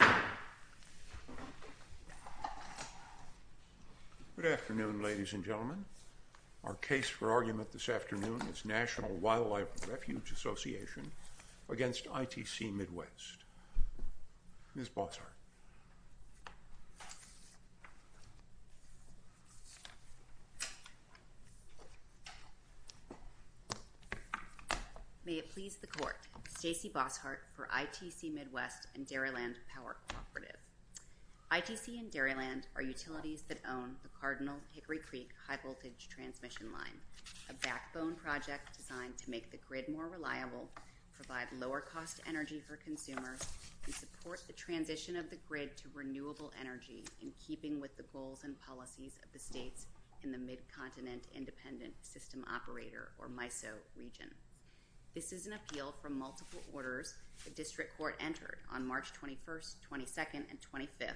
Good afternoon, ladies and gentlemen. Our case for argument this afternoon is National Wildlife Refuge Association v. ITC Midwest. Ms. Bossart. May it please the court. Stacey Bossart for ITC Midwest and Dairyland Power Cooperative. ITC and Dairyland are utilities that own the Cardinal Hickory Creek high voltage transmission line, a backbone project designed to make the grid more reliable, provide lower cost energy for consumers, and support the transition of the grid to renewable energy in keeping with the goals and policies of the states in the Mid-Continent Independent System Operator, or MISO, region. This is an appeal from multiple orders the district court entered on March 21st, 22nd, and 25th,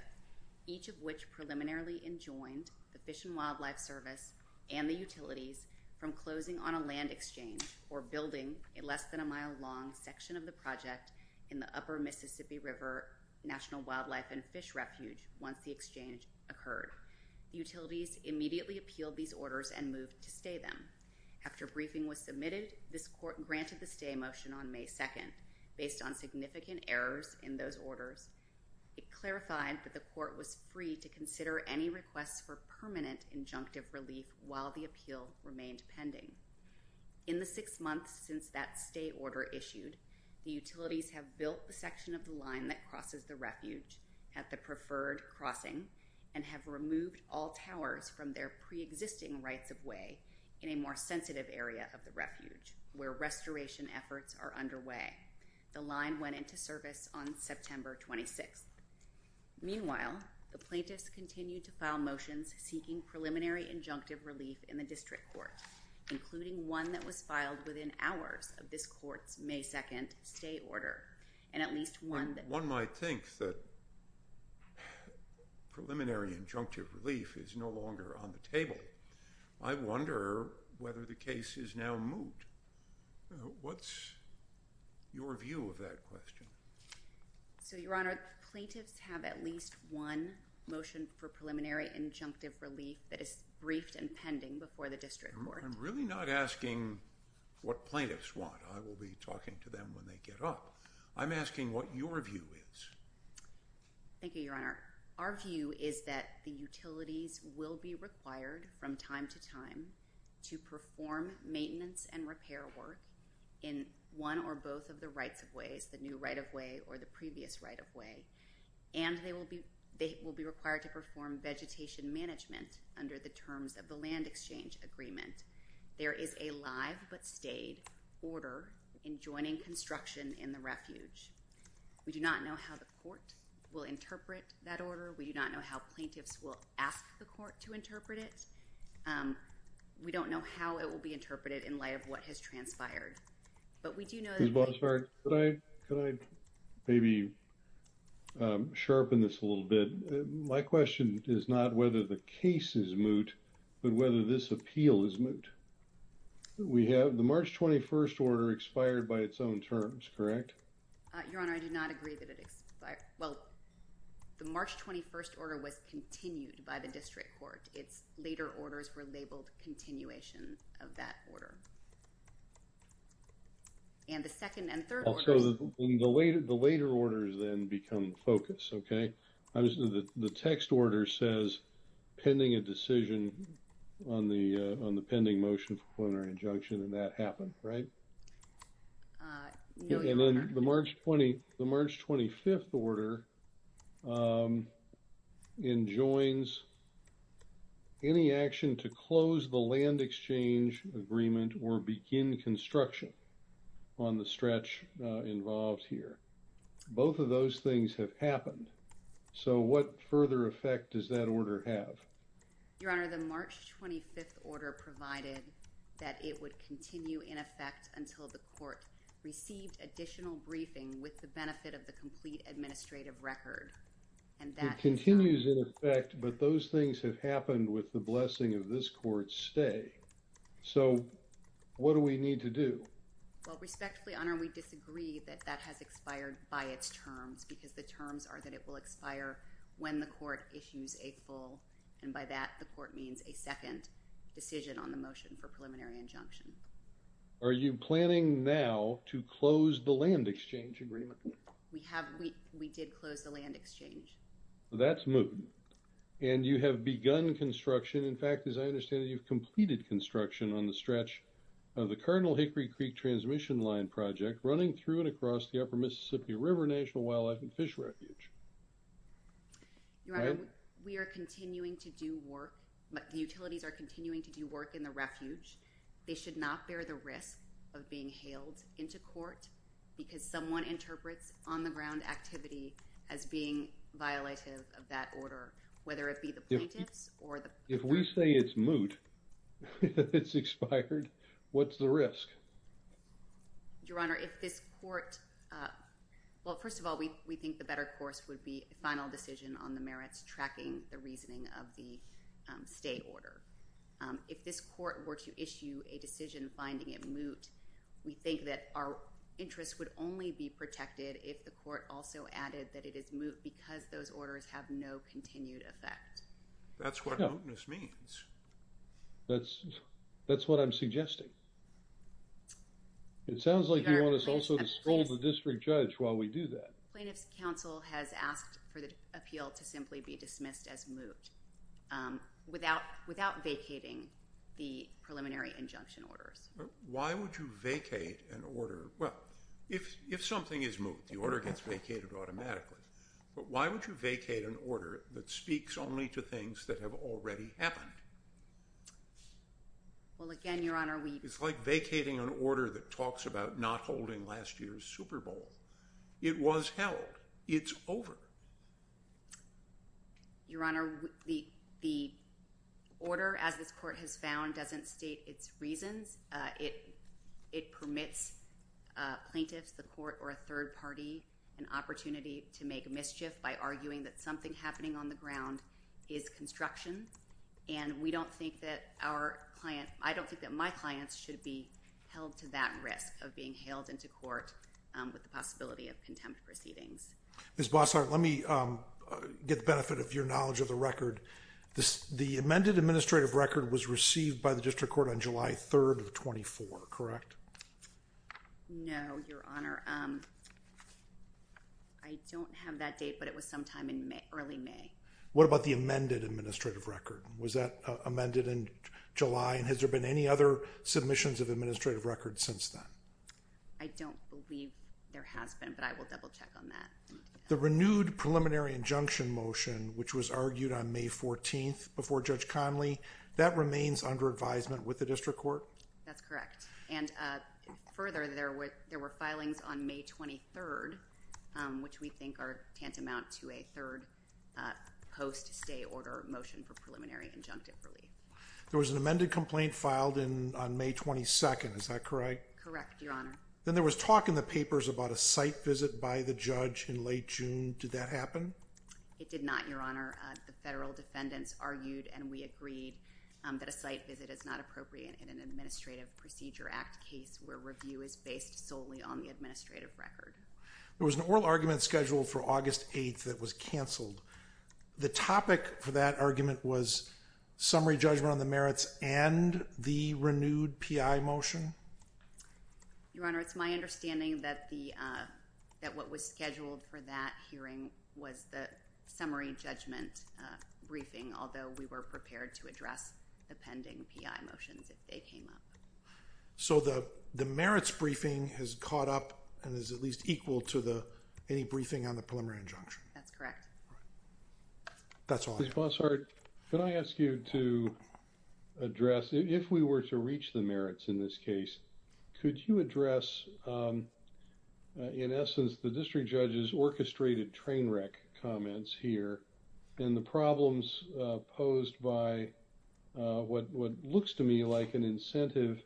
each of which preliminarily enjoined the Fish and Wildlife Service and the utilities from closing on a land exchange or building a less than a mile long section of the project in the upper Mississippi River National Wildlife and Fish Refuge once the exchange occurred. Utilities immediately appealed these orders and moved to stay them. After briefing was submitted, this court granted the stay motion on May 2nd. Based on significant errors in those orders, it clarified that the court was free to consider any requests for permanent injunctive relief while the appeal remained pending. In the six months since that stay order issued, the utilities have built the section of the line that crosses the refuge at the preferred crossing and have removed all towers from their pre-existing rights-of-way in a more sensitive area of the refuge where restoration efforts are underway. The line went into service on September 26th. Meanwhile, the plaintiffs continued to file motions seeking preliminary injunctive relief in the district court, including one that was filed within hours of this court's May 2nd stay order, and at least one that one might think that preliminary injunctive relief is no longer on the table. I wonder whether the case is now moot. What's your view of that question? So, Your Honor, plaintiffs have at least one motion for preliminary injunctive relief that is briefed and pending before the district court. I'm really not asking what plaintiffs want. I will be talking to them when they get up. I'm asking what your view is. Thank you, Your Honor. Our view is that the utilities will be required from time to time to perform maintenance and repair work in one or both of the rights-of-ways, the new right-of-way or the previous right-of-way, and they will be required to perform vegetation management under the terms of the land exchange agreement. There is a live but stayed order in joining construction in the refuge. We do not know how the court will interpret that order. We do not know how plaintiffs will ask the court to interpret it. We don't know how it will be interpreted in light of what has transpired. Could I maybe sharpen this a little bit? My question is not whether the case is moot, but whether this appeal is moot. We have the March 21st order expired by its own terms, correct? Your Honor, I do not agree that it expired. Well, the March 21st order was continued by the district court. Its later orders were labeled continuation of that order. And the second and third orders. So the later orders then become focus, okay? The text order says pending a decision on the pending motion for preliminary injunction and that happened, right? No, Your Honor. And then the March 25th order enjoins any action to close the land exchange agreement or begin construction on the stretch involved here. Both of those things have happened. So what further effect does that order have? Your Honor, the March 25th order provided that it would continue in effect until the court received additional briefing with the benefit of the complete administrative record. And that continues in effect, but those things have happened with the blessing of this court's stay. So what do we need to do? Well, respectfully, Your Honor, we disagree that that has expired by its terms because the terms are that it will expire when the court issues a full and by that the to close the land exchange agreement. We have, we did close the land exchange. That's moved. And you have begun construction. In fact, as I understand it, you've completed construction on the stretch of the Cardinal Hickory Creek transmission line project running through and across the Upper Mississippi River National Wildlife and Fish Refuge. Your Honor, we are continuing to do work. The utilities are continuing to do work in the refuge. They should not bear the risk of being hailed into court because someone interprets on-the-ground activity as being violative of that order, whether it be the plaintiffs or the... If we say it's moot, it's expired, what's the risk? Your Honor, if this court, well, first of all, we think the better course would be a final decision on the merits tracking the reasoning of the stay order. If this court were to issue a decision finding it moot, we think that our interest would only be protected if the court also added that it is moot because those orders have no continued effect. That's what mootness means. That's, that's what I'm suggesting. It sounds like you want us also to scold the district judge while we do that. Plaintiff's counsel has asked for the appeal to simply be dismissed as moot without, without vacating the preliminary injunction orders. Why would you vacate an order? Well, if, if something is moot, the order gets vacated automatically, but why would you vacate an order that speaks only to things that have already happened? Well, again, Your Honor, we... It's like vacating an order that talks about not holding last year's Super Bowl. It was held. It's over. Your Honor, the, the order, as this court has found, doesn't state its reasons. It, it permits plaintiffs, the court, or a third party an opportunity to make mischief by arguing that something happening on the ground is construction. And we don't think that our client, I don't think that my clients should be held to that risk of being hailed into court with the possibility of contempt proceedings. Ms. Bossart, let me get the benefit of your knowledge of the record. The amended administrative record was received by the district court on July 3rd of 24, correct? No, Your Honor. I don't have that date, but it was sometime in May, early May. What about the amended administrative record? Was that amended in July and has there been any other submissions of administrative records since then? I don't believe there has been, but I will double check on that. The renewed preliminary injunction motion, which was argued on May 14th before Judge Conley, that remains under advisement with the district court? That's correct. And further, there were, there were filings on May 23rd, which we think are tantamount to a third post-stay order motion for preliminary injunctive relief. There was an amended complaint filed in, on May 22nd, is that correct? Correct, Your Honor. Then there was talk in the papers about a site visit by the judge in late June. Did that happen? It did not, Your Honor. The federal defendants argued and we agreed that a site visit is not appropriate in an Administrative Procedure Act case where review is based solely on the administrative record. There was an oral argument scheduled for August 8th that was canceled. The topic for that argument was summary judgment on the merits and the renewed PI motion? Your Honor, it's my understanding that the, that what was scheduled for that hearing was the summary judgment briefing, although we were prepared to address the pending PI motions if they came up. So the, the merits briefing has caught up and is at least equal to the, any briefing on the preliminary injunction? That's correct. That's all I know. Ms. Bossart, can I ask you to address, if we were to reach the merits in this case, could you address, in essence, the district judge's orchestrated train wreck comments here and the problems posed by what, what looks to me like an incentive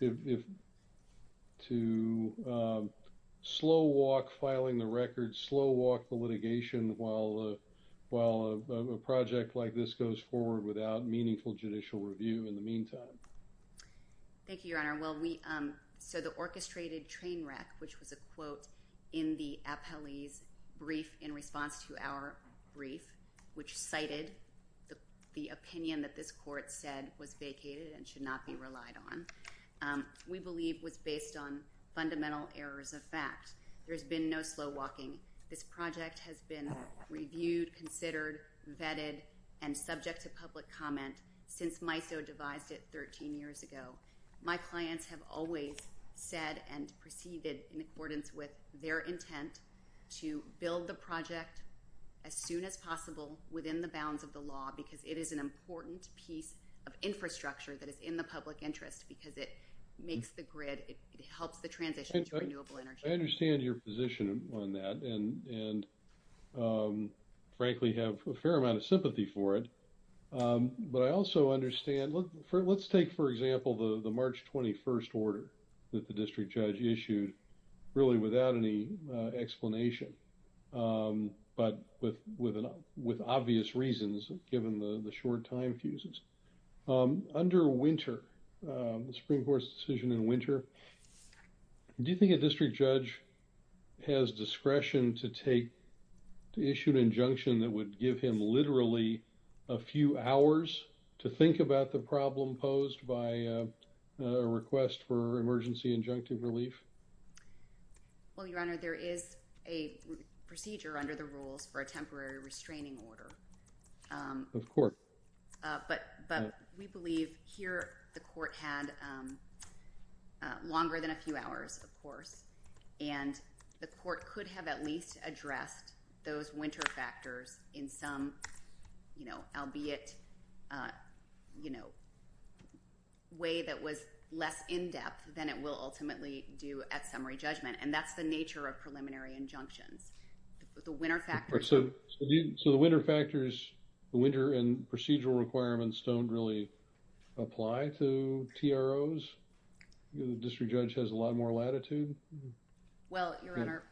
if, to slow walk filing the record, slow walk the litigation while, while a project like this goes forward without meaningful judicial review in the meantime? Thank you, Your Honor. Well, we, so the orchestrated train wreck, which was a quote in the appellee's brief in response to our brief, which cited the, the opinion that this court said was vacated and should not be relied on, we believe was based on fundamental errors of fact. There's been no slow walking. This project has been reviewed, considered, vetted, and subject to public comment since MISO devised it 13 years ago. My clients have always said and proceeded in accordance with their intent to build the project as soon as possible within the bounds of the law because it is an important piece of infrastructure that is in the public interest because it makes the grid, it helps the I understand your position on that and, and frankly have a fair amount of sympathy for it. But I also understand, let's take for example the March 21st order that the district judge issued really without any explanation but with, with obvious reasons given the short time fuses. Under Winter, the Supreme Court's decision in Winter, do you think a district judge has discretion to take, to issue an injunction that would give him literally a few hours to think about the problem posed by a request for emergency injunctive relief? Well, Your Honor, there is a procedure under the rules for a temporary restraining order. Of course. But, but we believe here the court had longer than a few hours, of course, and the court could have at least addressed those Winter factors in some, you know, albeit, you know, way that was less in-depth than it will ultimately do at summary judgment and that's the nature of preliminary injunctions. The Winter factors. So, so the Winter factors, the Winter and procedural requirements don't really apply to TROs? The district judge has a lot more latitude? Well, Your Honor,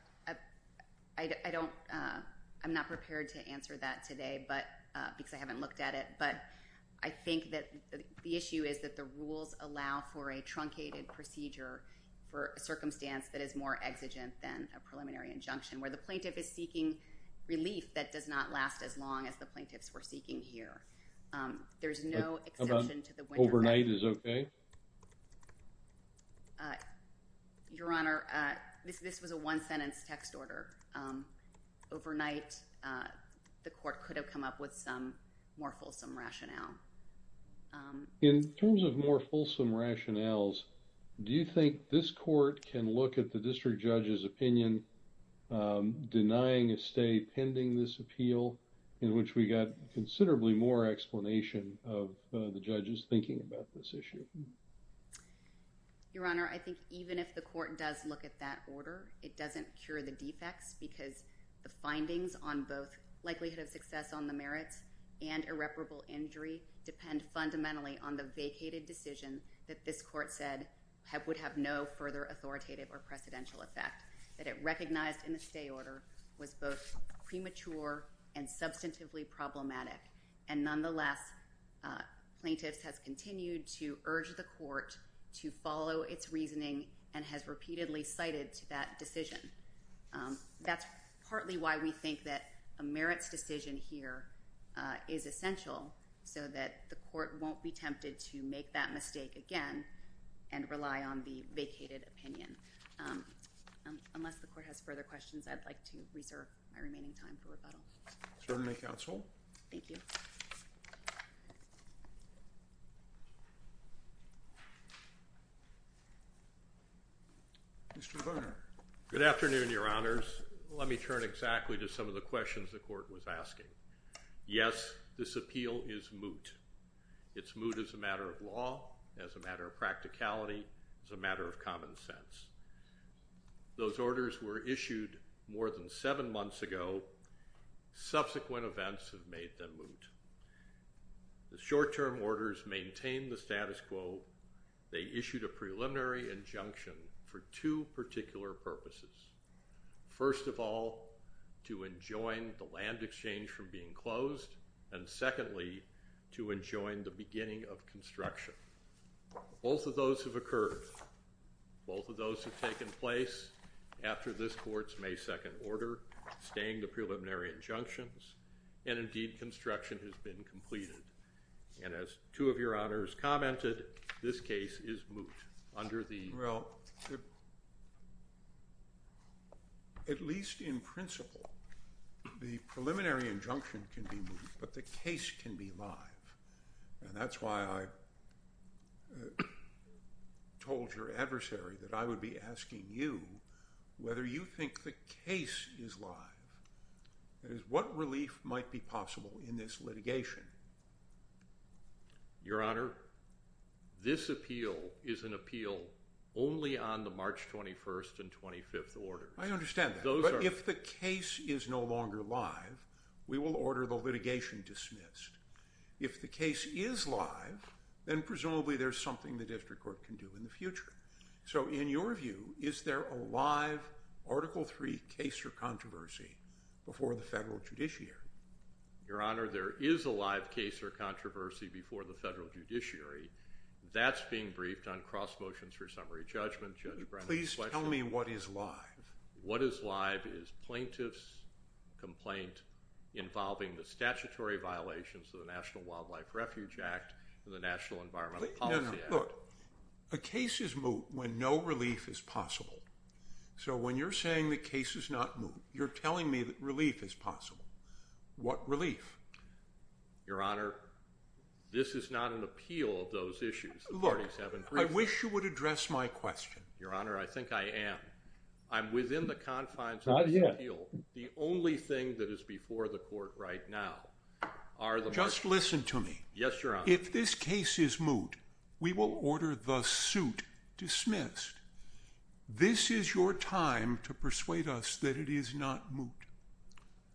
I, I don't, I'm not prepared to answer that today but, because I haven't looked at it but I think that the issue is that the rules allow for a truncated procedure for a circumstance that is more exigent than a preliminary injunction where the plaintiff is seeking relief that does not last as long as the plaintiffs were seeking here. There's no exception to the Winter. Overnight is okay? Your Honor, this, this was a one-sentence text order. Overnight, the court could have come up with some more fulsome rationale. Um. In terms of more fulsome rationales, do you think this court can look at the district judge's opinion, um, denying a stay pending this appeal in which we got considerably more explanation of, uh, the judge's thinking about this issue? Your Honor, I think even if the court does look at that order, it doesn't cure the defects because the findings on both likelihood of success on the merits and irreparable injury depend fundamentally on the vacated decision that this court said have, would have no further authoritative or precedential effect. That it recognized in the stay order was both premature and substantively problematic and nonetheless, uh, plaintiffs has continued to urge the court to follow its reasoning and has repeatedly cited to that decision. Um, that's partly why we think that a merits decision here, uh, is essential so that the court won't be tempted to make that mistake again and rely on the vacated opinion. Um, unless the court has further questions, I'd like to reserve my remaining time for Certainly, counsel. Thank you. Mr. Varner. Good afternoon, Your Honors. Let me turn exactly to some of the questions the court was asking. Yes, this appeal is moot. It's moot as a matter of law, as a matter of practicality, as a matter of common sense. Those orders were issued more than seven months ago. Subsequent events have made them moot. The short-term orders maintain the status quo. They issued a preliminary injunction for two particular purposes. First of all, to enjoin the land exchange from being closed. And secondly, to enjoin the beginning of construction. Both of those have occurred. Both of those have taken place after this court's May 2nd order, staying the preliminary injunctions and indeed construction has been completed. And as two of your honors commented, this case is moot under the Well, at least in principle, the preliminary injunction can be moot, but the case can be live. And that's why I told your adversary that I would be asking you whether you think the is live. What relief might be possible in this litigation? Your honor, this appeal is an appeal only on the March 21st and 25th orders. I understand that. But if the case is no longer live, we will order the litigation dismissed. If the case is live, then presumably there's something the district court can do in the future. So in your view, is there a live Article III case or controversy before the federal judiciary? Your honor, there is a live case or controversy before the federal judiciary. That's being briefed on cross motions for summary judgment. Judge Brennan's question. Please tell me what is live. What is live is plaintiff's complaint involving the statutory violations of the National Wildlife Refuge Act and the National Environmental Policy Act. A case is moot when no relief is possible. So when you're saying the case is not moot, you're telling me that relief is possible. What relief? Your honor, this is not an appeal of those issues. I wish you would address my question. Your honor, I think I am. I'm within the confines of the appeal. The only thing that is before the court right now are the... Just listen to me. Yes, your honor. If this case is moot, we will order the suit dismissed. This is your time to persuade us that it is not moot.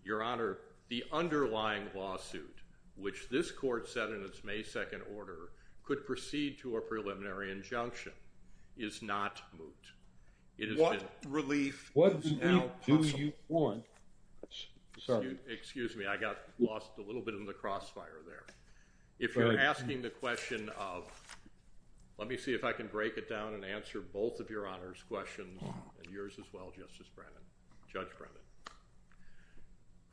Your honor, the underlying lawsuit, which this court said in its May 2nd order, could proceed to a preliminary injunction, is not moot. It has been... What relief is now possible? What relief do you want? Excuse me. I got lost a little bit in the crossfire there. If you're asking the question of... Let me see if I can break it down and answer both of your honor's questions, and yours as well, Justice Brennan, Judge Brennan.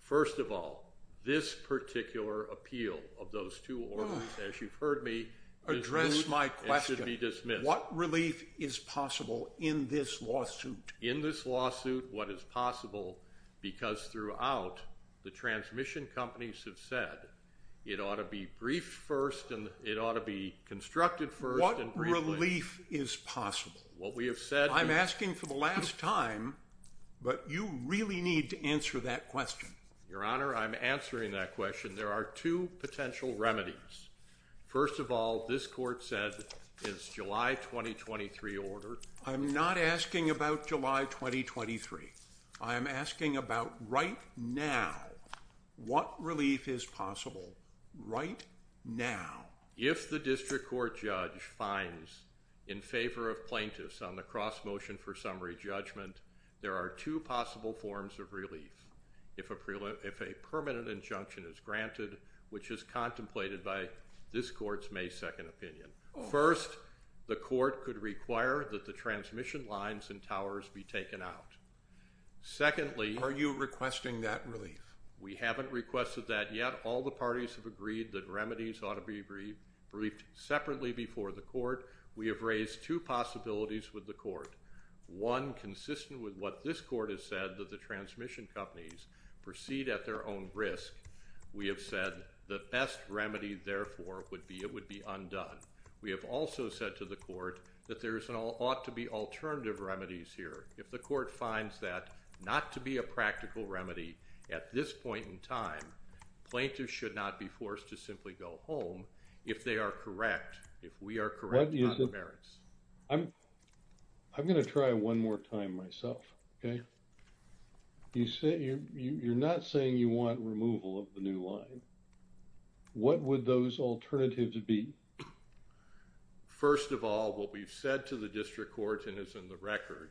First of all, this particular appeal of those two orders, as you've heard me... Address my question. It should be dismissed. What relief is possible in this lawsuit? In this lawsuit, what is possible, because throughout, the transmission companies have said it ought to be briefed first, and it ought to be constructed first... What relief is possible? What we have said... I'm asking for the last time, but you really need to answer that question. Your honor, I'm answering that question. There are two potential remedies. First of all, this court said it's July 2023 order. I'm not asking about July 2023. I am asking about right now. What relief is possible right now? If the district court judge finds in favor of plaintiffs on the cross motion for summary judgment, there are two possible forms of relief. If a permanent injunction is granted, which is contemplated by this court's May 2nd opinion. First, the court could require that the transmission lines and towers be taken out. Secondly... Are you requesting that relief? We haven't requested that yet. All the parties have agreed that remedies ought to be briefed separately before the court. We have raised two possibilities with the court. One, consistent with what this court has said, that the transmission companies proceed at their own risk. We have said the best remedy, therefore, would be it would be undone. We have also said to the court that there ought to be alternative remedies here. If the court finds that not to be a practical remedy at this point in time, plaintiffs should not be forced to simply go home if they are correct. If we are correct on the merits. I'm going to try one more time myself. You said you're not saying you want removal of the new line. What would those alternatives be? First of all, what we've said to the district court, and it's in the record,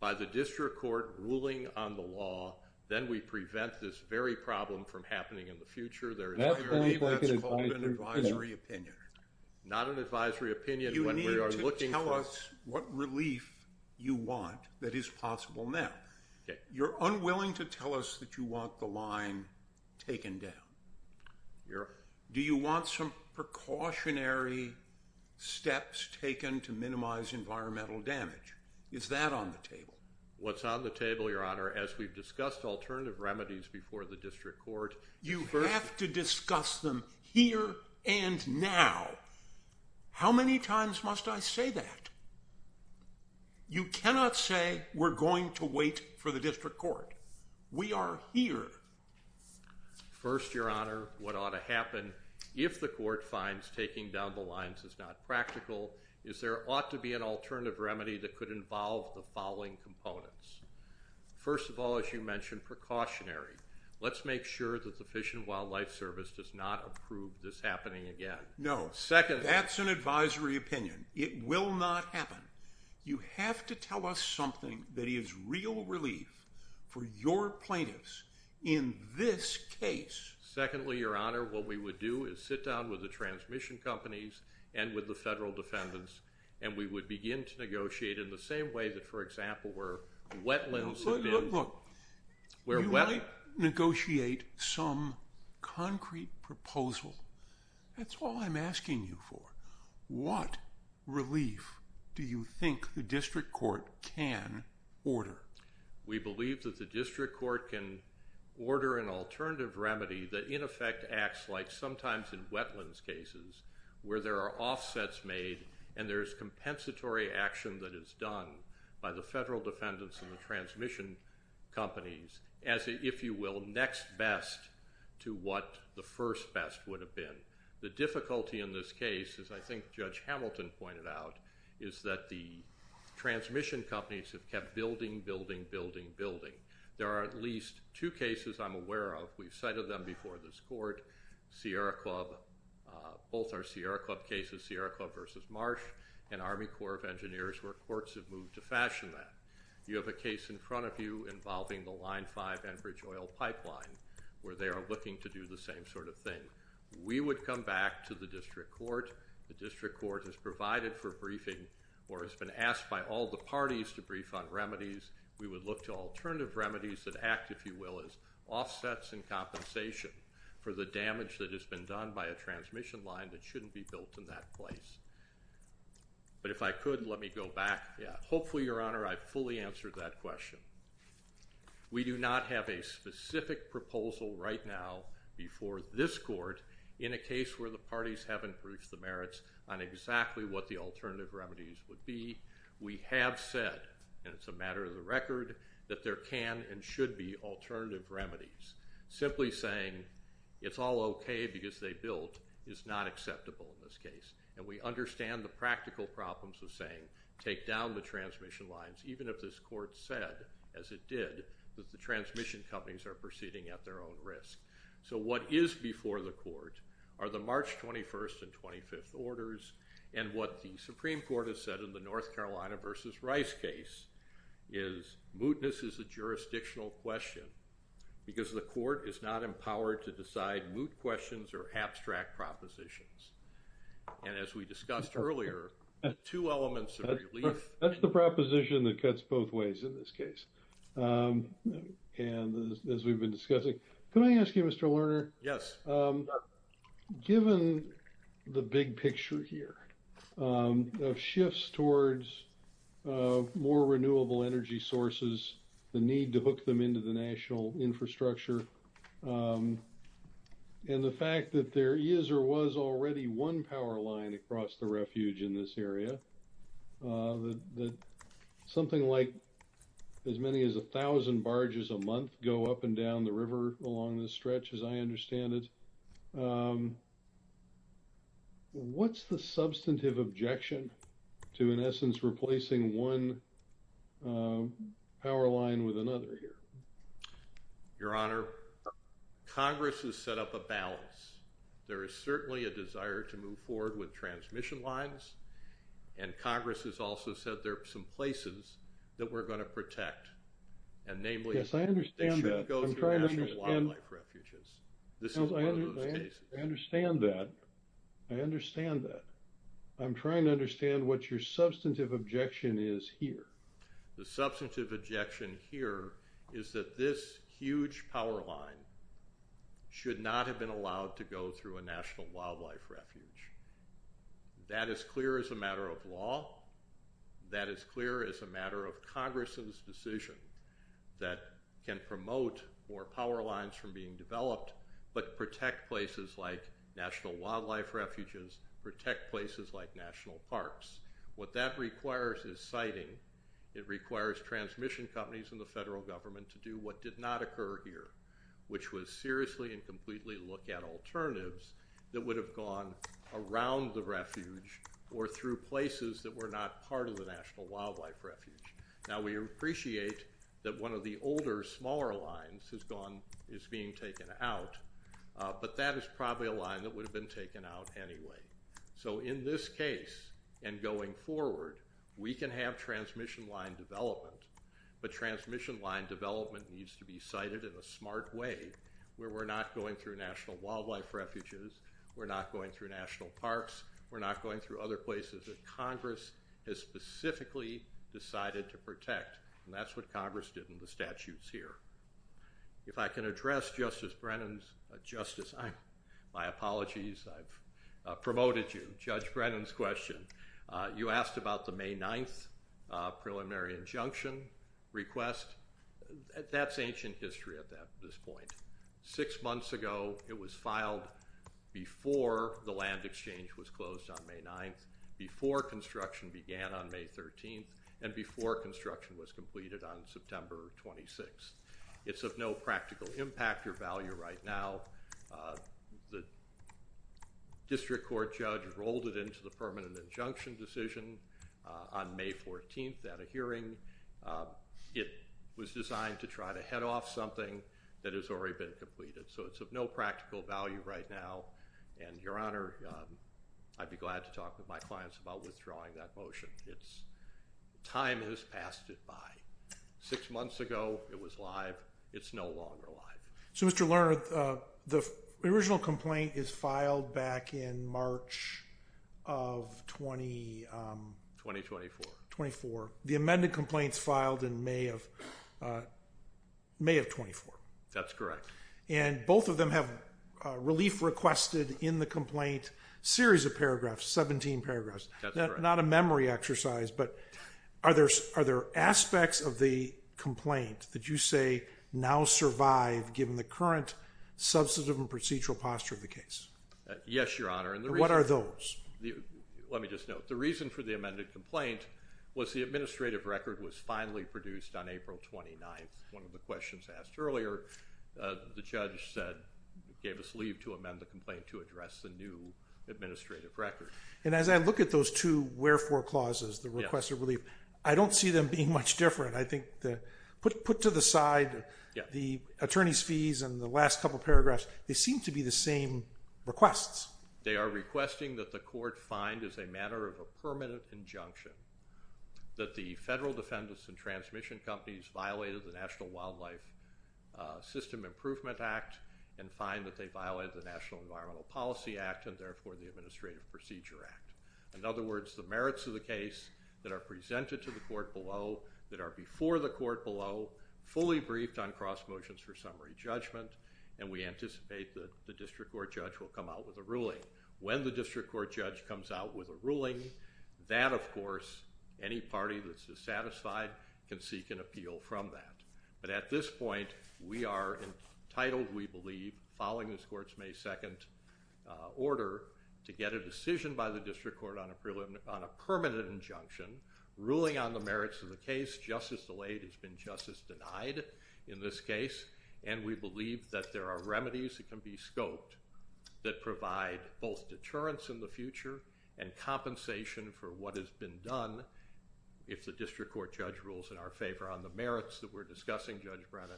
by the district court ruling on the law, then we prevent this very problem from happening in the future. There is a remedy that's called an advisory opinion. Not an advisory opinion when we are looking for... You need to tell us what relief you want that is possible now. You're unwilling to tell us that you want the line taken down. Your... Do you want some precautionary steps taken to minimize environmental damage? Is that on the table? What's on the table, Your Honor, as we've discussed alternative remedies before the district court... You have to discuss them here and now. How many times must I say that? You cannot say we're going to wait for the district court. We are here. First, Your Honor, what ought to happen if the court finds taking down the lines is not practical, is there ought to be an alternative remedy that could involve the following components. First of all, as you mentioned, precautionary. Let's make sure that the Fish and Wildlife Service does not approve this happening again. No. Second... That's an advisory opinion. It will not happen. You have to tell us something that is real relief for your plaintiffs in this case. Secondly, Your Honor, what we would do is sit down with the transmission companies and with the federal defendants, and we would begin to negotiate in the same way that, for example, where wetlands have been... Look, look, look, you might negotiate some concrete proposal. That's all I'm asking you for. What relief do you think the district court can order? We believe that the district court can order an alternative remedy that, in effect, acts like sometimes in wetlands cases where there are offsets made and there's compensatory action that is done by the federal defendants and the transmission companies as, if you will, next best to what the first best would have been. The difficulty in this case, as I think Judge Hamilton pointed out, is that the transmission companies have kept building, building, building, building. There are at least two cases I'm aware of. We've cited them before this court. Both are Sierra Club cases, Sierra Club versus Marsh, and Army Corps of Engineers where courts have moved to fashion that. You have a case in front of you involving the Line 5 Enbridge oil pipeline where they are looking to do the same sort of thing. We would come back to the district court. The district court has provided for briefing or has been asked by all the parties to brief on remedies. We would look to alternative remedies that act, if you will, as offsets and compensation for the damage that has been done by a transmission line that shouldn't be built in that place. But if I could, let me go back. Hopefully, Your Honor, I fully answered that question. We do not have a specific proposal right now before this court in a case where the parties haven't briefed the merits on exactly what the alternative remedies would be. We have said, and it's a matter of the record, that there can and should be alternative remedies. Simply saying, it's all OK because they built, is not acceptable in this case. And we understand the practical problems of saying, take down the transmission lines, even if this court said, as it did, that the transmission companies are proceeding at their own risk. So what is before the court are the March 21st and 25th orders. And what the Supreme Court has said in the North Carolina versus Rice case is, mootness is a jurisdictional question because the court is not empowered to decide moot questions or abstract propositions. And as we discussed earlier, two elements of relief. That's the proposition that cuts both ways in this case. And as we've been discussing, can I ask you, Mr. Lerner? Yes. Given the big picture here of shifts towards more renewable energy sources, the need to hook them into the national infrastructure, and the fact that there is or was already one power line across the refuge in this area, that something like as many as 1,000 barges a month go up and down the river along this stretch, as I understand it, what's the substantive objection to, in essence, replacing one power line with another here? Your Honor, Congress has set up a balance. There is certainly a desire to move forward with transmission lines. And Congress has also said there are some places that we're going to protect. And namely, they should go through national wildlife refuges. This is one of those cases. I understand that. I understand that. I'm trying to understand what your substantive objection is here. The substantive objection here is that this huge power line should not have been allowed to go through a national wildlife refuge. That is clear as a matter of law. That is clear as a matter of Congress's decision that can promote more power lines from being developed, but protect places like national wildlife refuges, protect places like national parks. What that requires is siting. It requires transmission companies and the federal government to do what did not occur here, which was seriously and completely look at alternatives that would have gone around the refuge or through places that were not part of the national wildlife refuge. Now, we appreciate that one of the older, smaller lines has gone, is being taken out. But that is probably a line that would have been taken out anyway. So in this case, and going forward, we can have transmission line development. But transmission line development needs to be cited in a smart way where we're not going through national wildlife refuges. We're not going through national parks. We're not going through other places that Congress has specifically decided to protect. And that's what Congress did in the statutes here. If I can address Justice Brennan's, my apologies, I've promoted you, Judge Brennan's question. You asked about the May 9th preliminary injunction request. That's ancient history at this point. Six months ago, it was filed before the land exchange was closed on May 9th, before construction began on May 13th, and before construction was completed on September 26th. It's of no practical impact or value right now. The district court judge rolled it into the permanent injunction decision on May 14th at a So it's of no practical value right now. And, Your Honor, I'd be glad to talk with my clients about withdrawing that motion. Time has passed it by. Six months ago, it was live. It's no longer live. So, Mr. Lerner, the original complaint is filed back in March of 20... 2024. 24. The amended complaint's filed in May of... May of 24. That's correct. And both of them have relief requested in the complaint. Series of paragraphs, 17 paragraphs. Not a memory exercise, but are there aspects of the complaint that you say now survive given the current substantive and procedural posture of the case? Yes, Your Honor, and the reason... What are those? Let me just note, the reason for the amended complaint was the administrative record was finally produced on April 29th. One of the questions asked earlier, the judge said, gave us leave to amend the complaint to address the new administrative record. And as I look at those two wherefore clauses, the request of relief, I don't see them being much different. I think that, put to the side, the attorney's fees and the last couple paragraphs, they seem to be the same requests. They are requesting that the court find as a matter of a permanent injunction that the federal defendants and transmission companies violated the National Wildlife System Improvement Act and find that they violated the National Environmental Policy Act and therefore the Administrative Procedure Act. In other words, the merits of the case that are presented to the court below, that are before the court below, fully briefed on cross motions for summary judgment, and we anticipate that the district court judge will come out with a ruling. When the district court judge comes out with a ruling, that, of course, any party that's dissatisfied can seek an appeal from that. But at this point, we are entitled, we believe, following this court's May 2nd order, to get a decision by the district court on a permanent injunction, ruling on the merits of the case. Justice delayed has been justice denied in this case, and we believe that there are remedies that can be scoped that provide both deterrence in the future and compensation for what has been done, if the district court judge rules in our favor on the merits that we're discussing, Judge Brennan,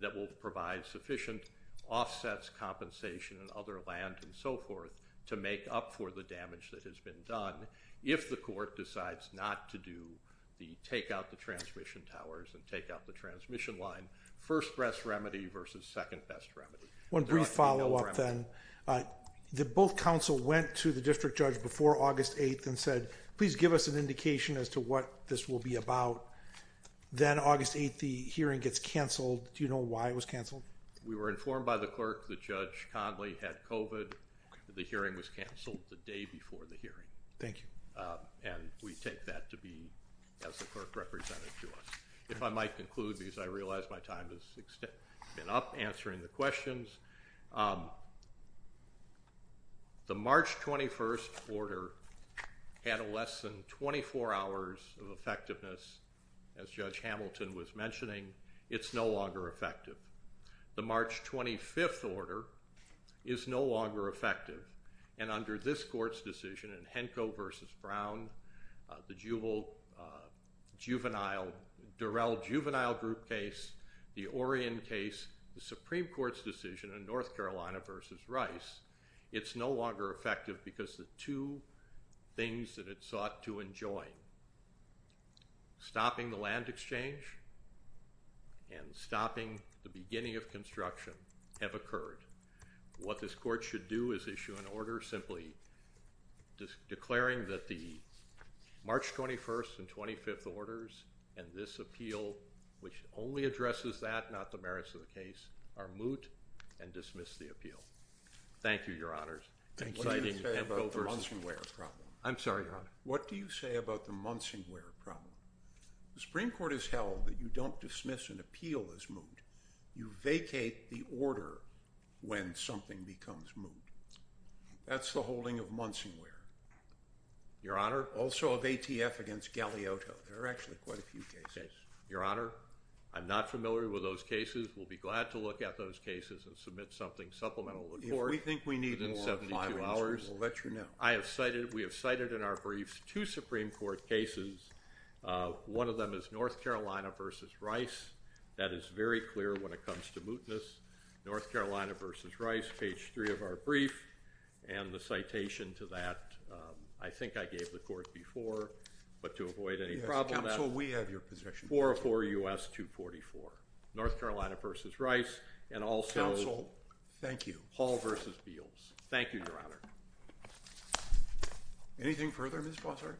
that will provide sufficient offsets, compensation, and other land and so forth to make up for the damage that has been done if the court decides not to do the take out the transmission towers and take out the transmission line. First best remedy versus second best remedy. One brief follow-up then. Both counsel went to the district judge before August 8th and said, please give us an indication as to what this will be about. Then August 8th, the hearing gets canceled. Do you know why it was canceled? We were informed by the clerk that Judge Conley had COVID. The hearing was canceled the day before the hearing. Thank you. And we take that to be, as the clerk represented to us. If I might conclude, because I realize my time has been up answering the questions. The March 21st order had a less than 24 hours of effectiveness, as Judge Hamilton was mentioning. It's no longer effective. The March 25th order is no longer effective. And under this court's decision in Henko versus Brown, the juvenile, Durell juvenile group case, the Orion case, the Supreme Court's decision in North Carolina versus Rice, it's no longer effective because the two things that it sought to enjoin, stopping the land exchange and stopping the beginning of construction have occurred. What this court should do is issue an order simply declaring that the March 21st and 25th orders and this appeal, which only addresses that, not the merits of the case, are moot and dismiss the appeal. Thank you, your honors. What do you say about the Munsingware problem? I'm sorry, your honor. What do you say about the Munsingware problem? The Supreme Court has held that you don't dismiss an appeal as moot. You vacate the order when something becomes moot. That's the holding of Munsingware. Your honor, also of ATF against Galeotto. There are actually quite a few cases. Your honor, I'm not familiar with those cases. We'll be glad to look at those cases and submit something supplemental. If we think we need more, we'll let you know. I have cited, we have cited in our briefs two Supreme Court cases. One of them is North Carolina versus Rice. That is very clear when it comes to mootness. North Carolina versus Rice, page three of our brief and the citation to that, I think I gave the court before, but to avoid any problem. Counsel, we have your position. 404 U.S. 244. North Carolina versus Rice and also- Counsel, thank you. Hall versus Beals. Thank you, your honor. Anything further, Ms. Bossert?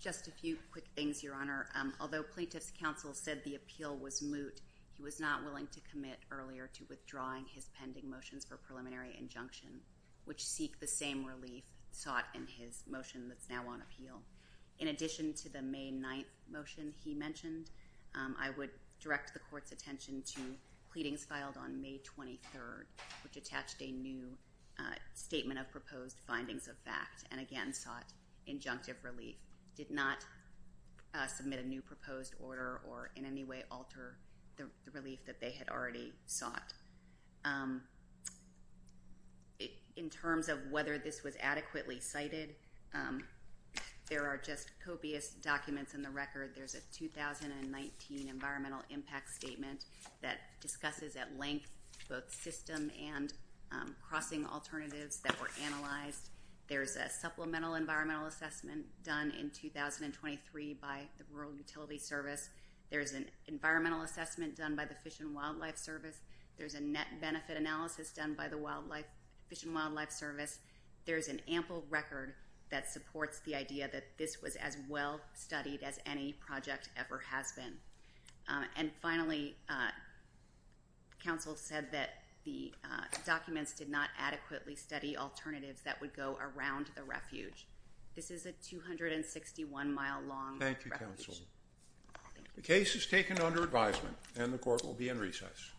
Just a few quick things, your honor. Although plaintiff's counsel said the appeal was moot, he was not willing to commit earlier to withdrawing his pending motions for preliminary injunction, which seek the same relief sought in his motion that's now on appeal. In addition to the May 9th motion he mentioned, I would direct the court's attention to pleadings filed on May 23rd, which attached a new statement of proposed findings of fact and again sought injunctive relief, did not submit a new proposed order or in any way alter the relief that they had already sought. In terms of whether this was adequately cited, there are just copious documents in the record. There's a 2019 environmental impact statement that discusses at length both system and crossing alternatives that were analyzed. There's a supplemental environmental assessment done in 2023 by the Rural Utility Service. There's an environmental assessment done by the Fish and Wildlife Service. There's a net benefit analysis done by the Fish and Wildlife Service. There's an ample record that supports the idea that this was as well studied as any project ever has been. And finally, counsel said that the documents did not adequately study alternatives that would go around the refuge. This is a 261 mile long... Thank you, counsel. The case is taken under advisement and the court will be in recess.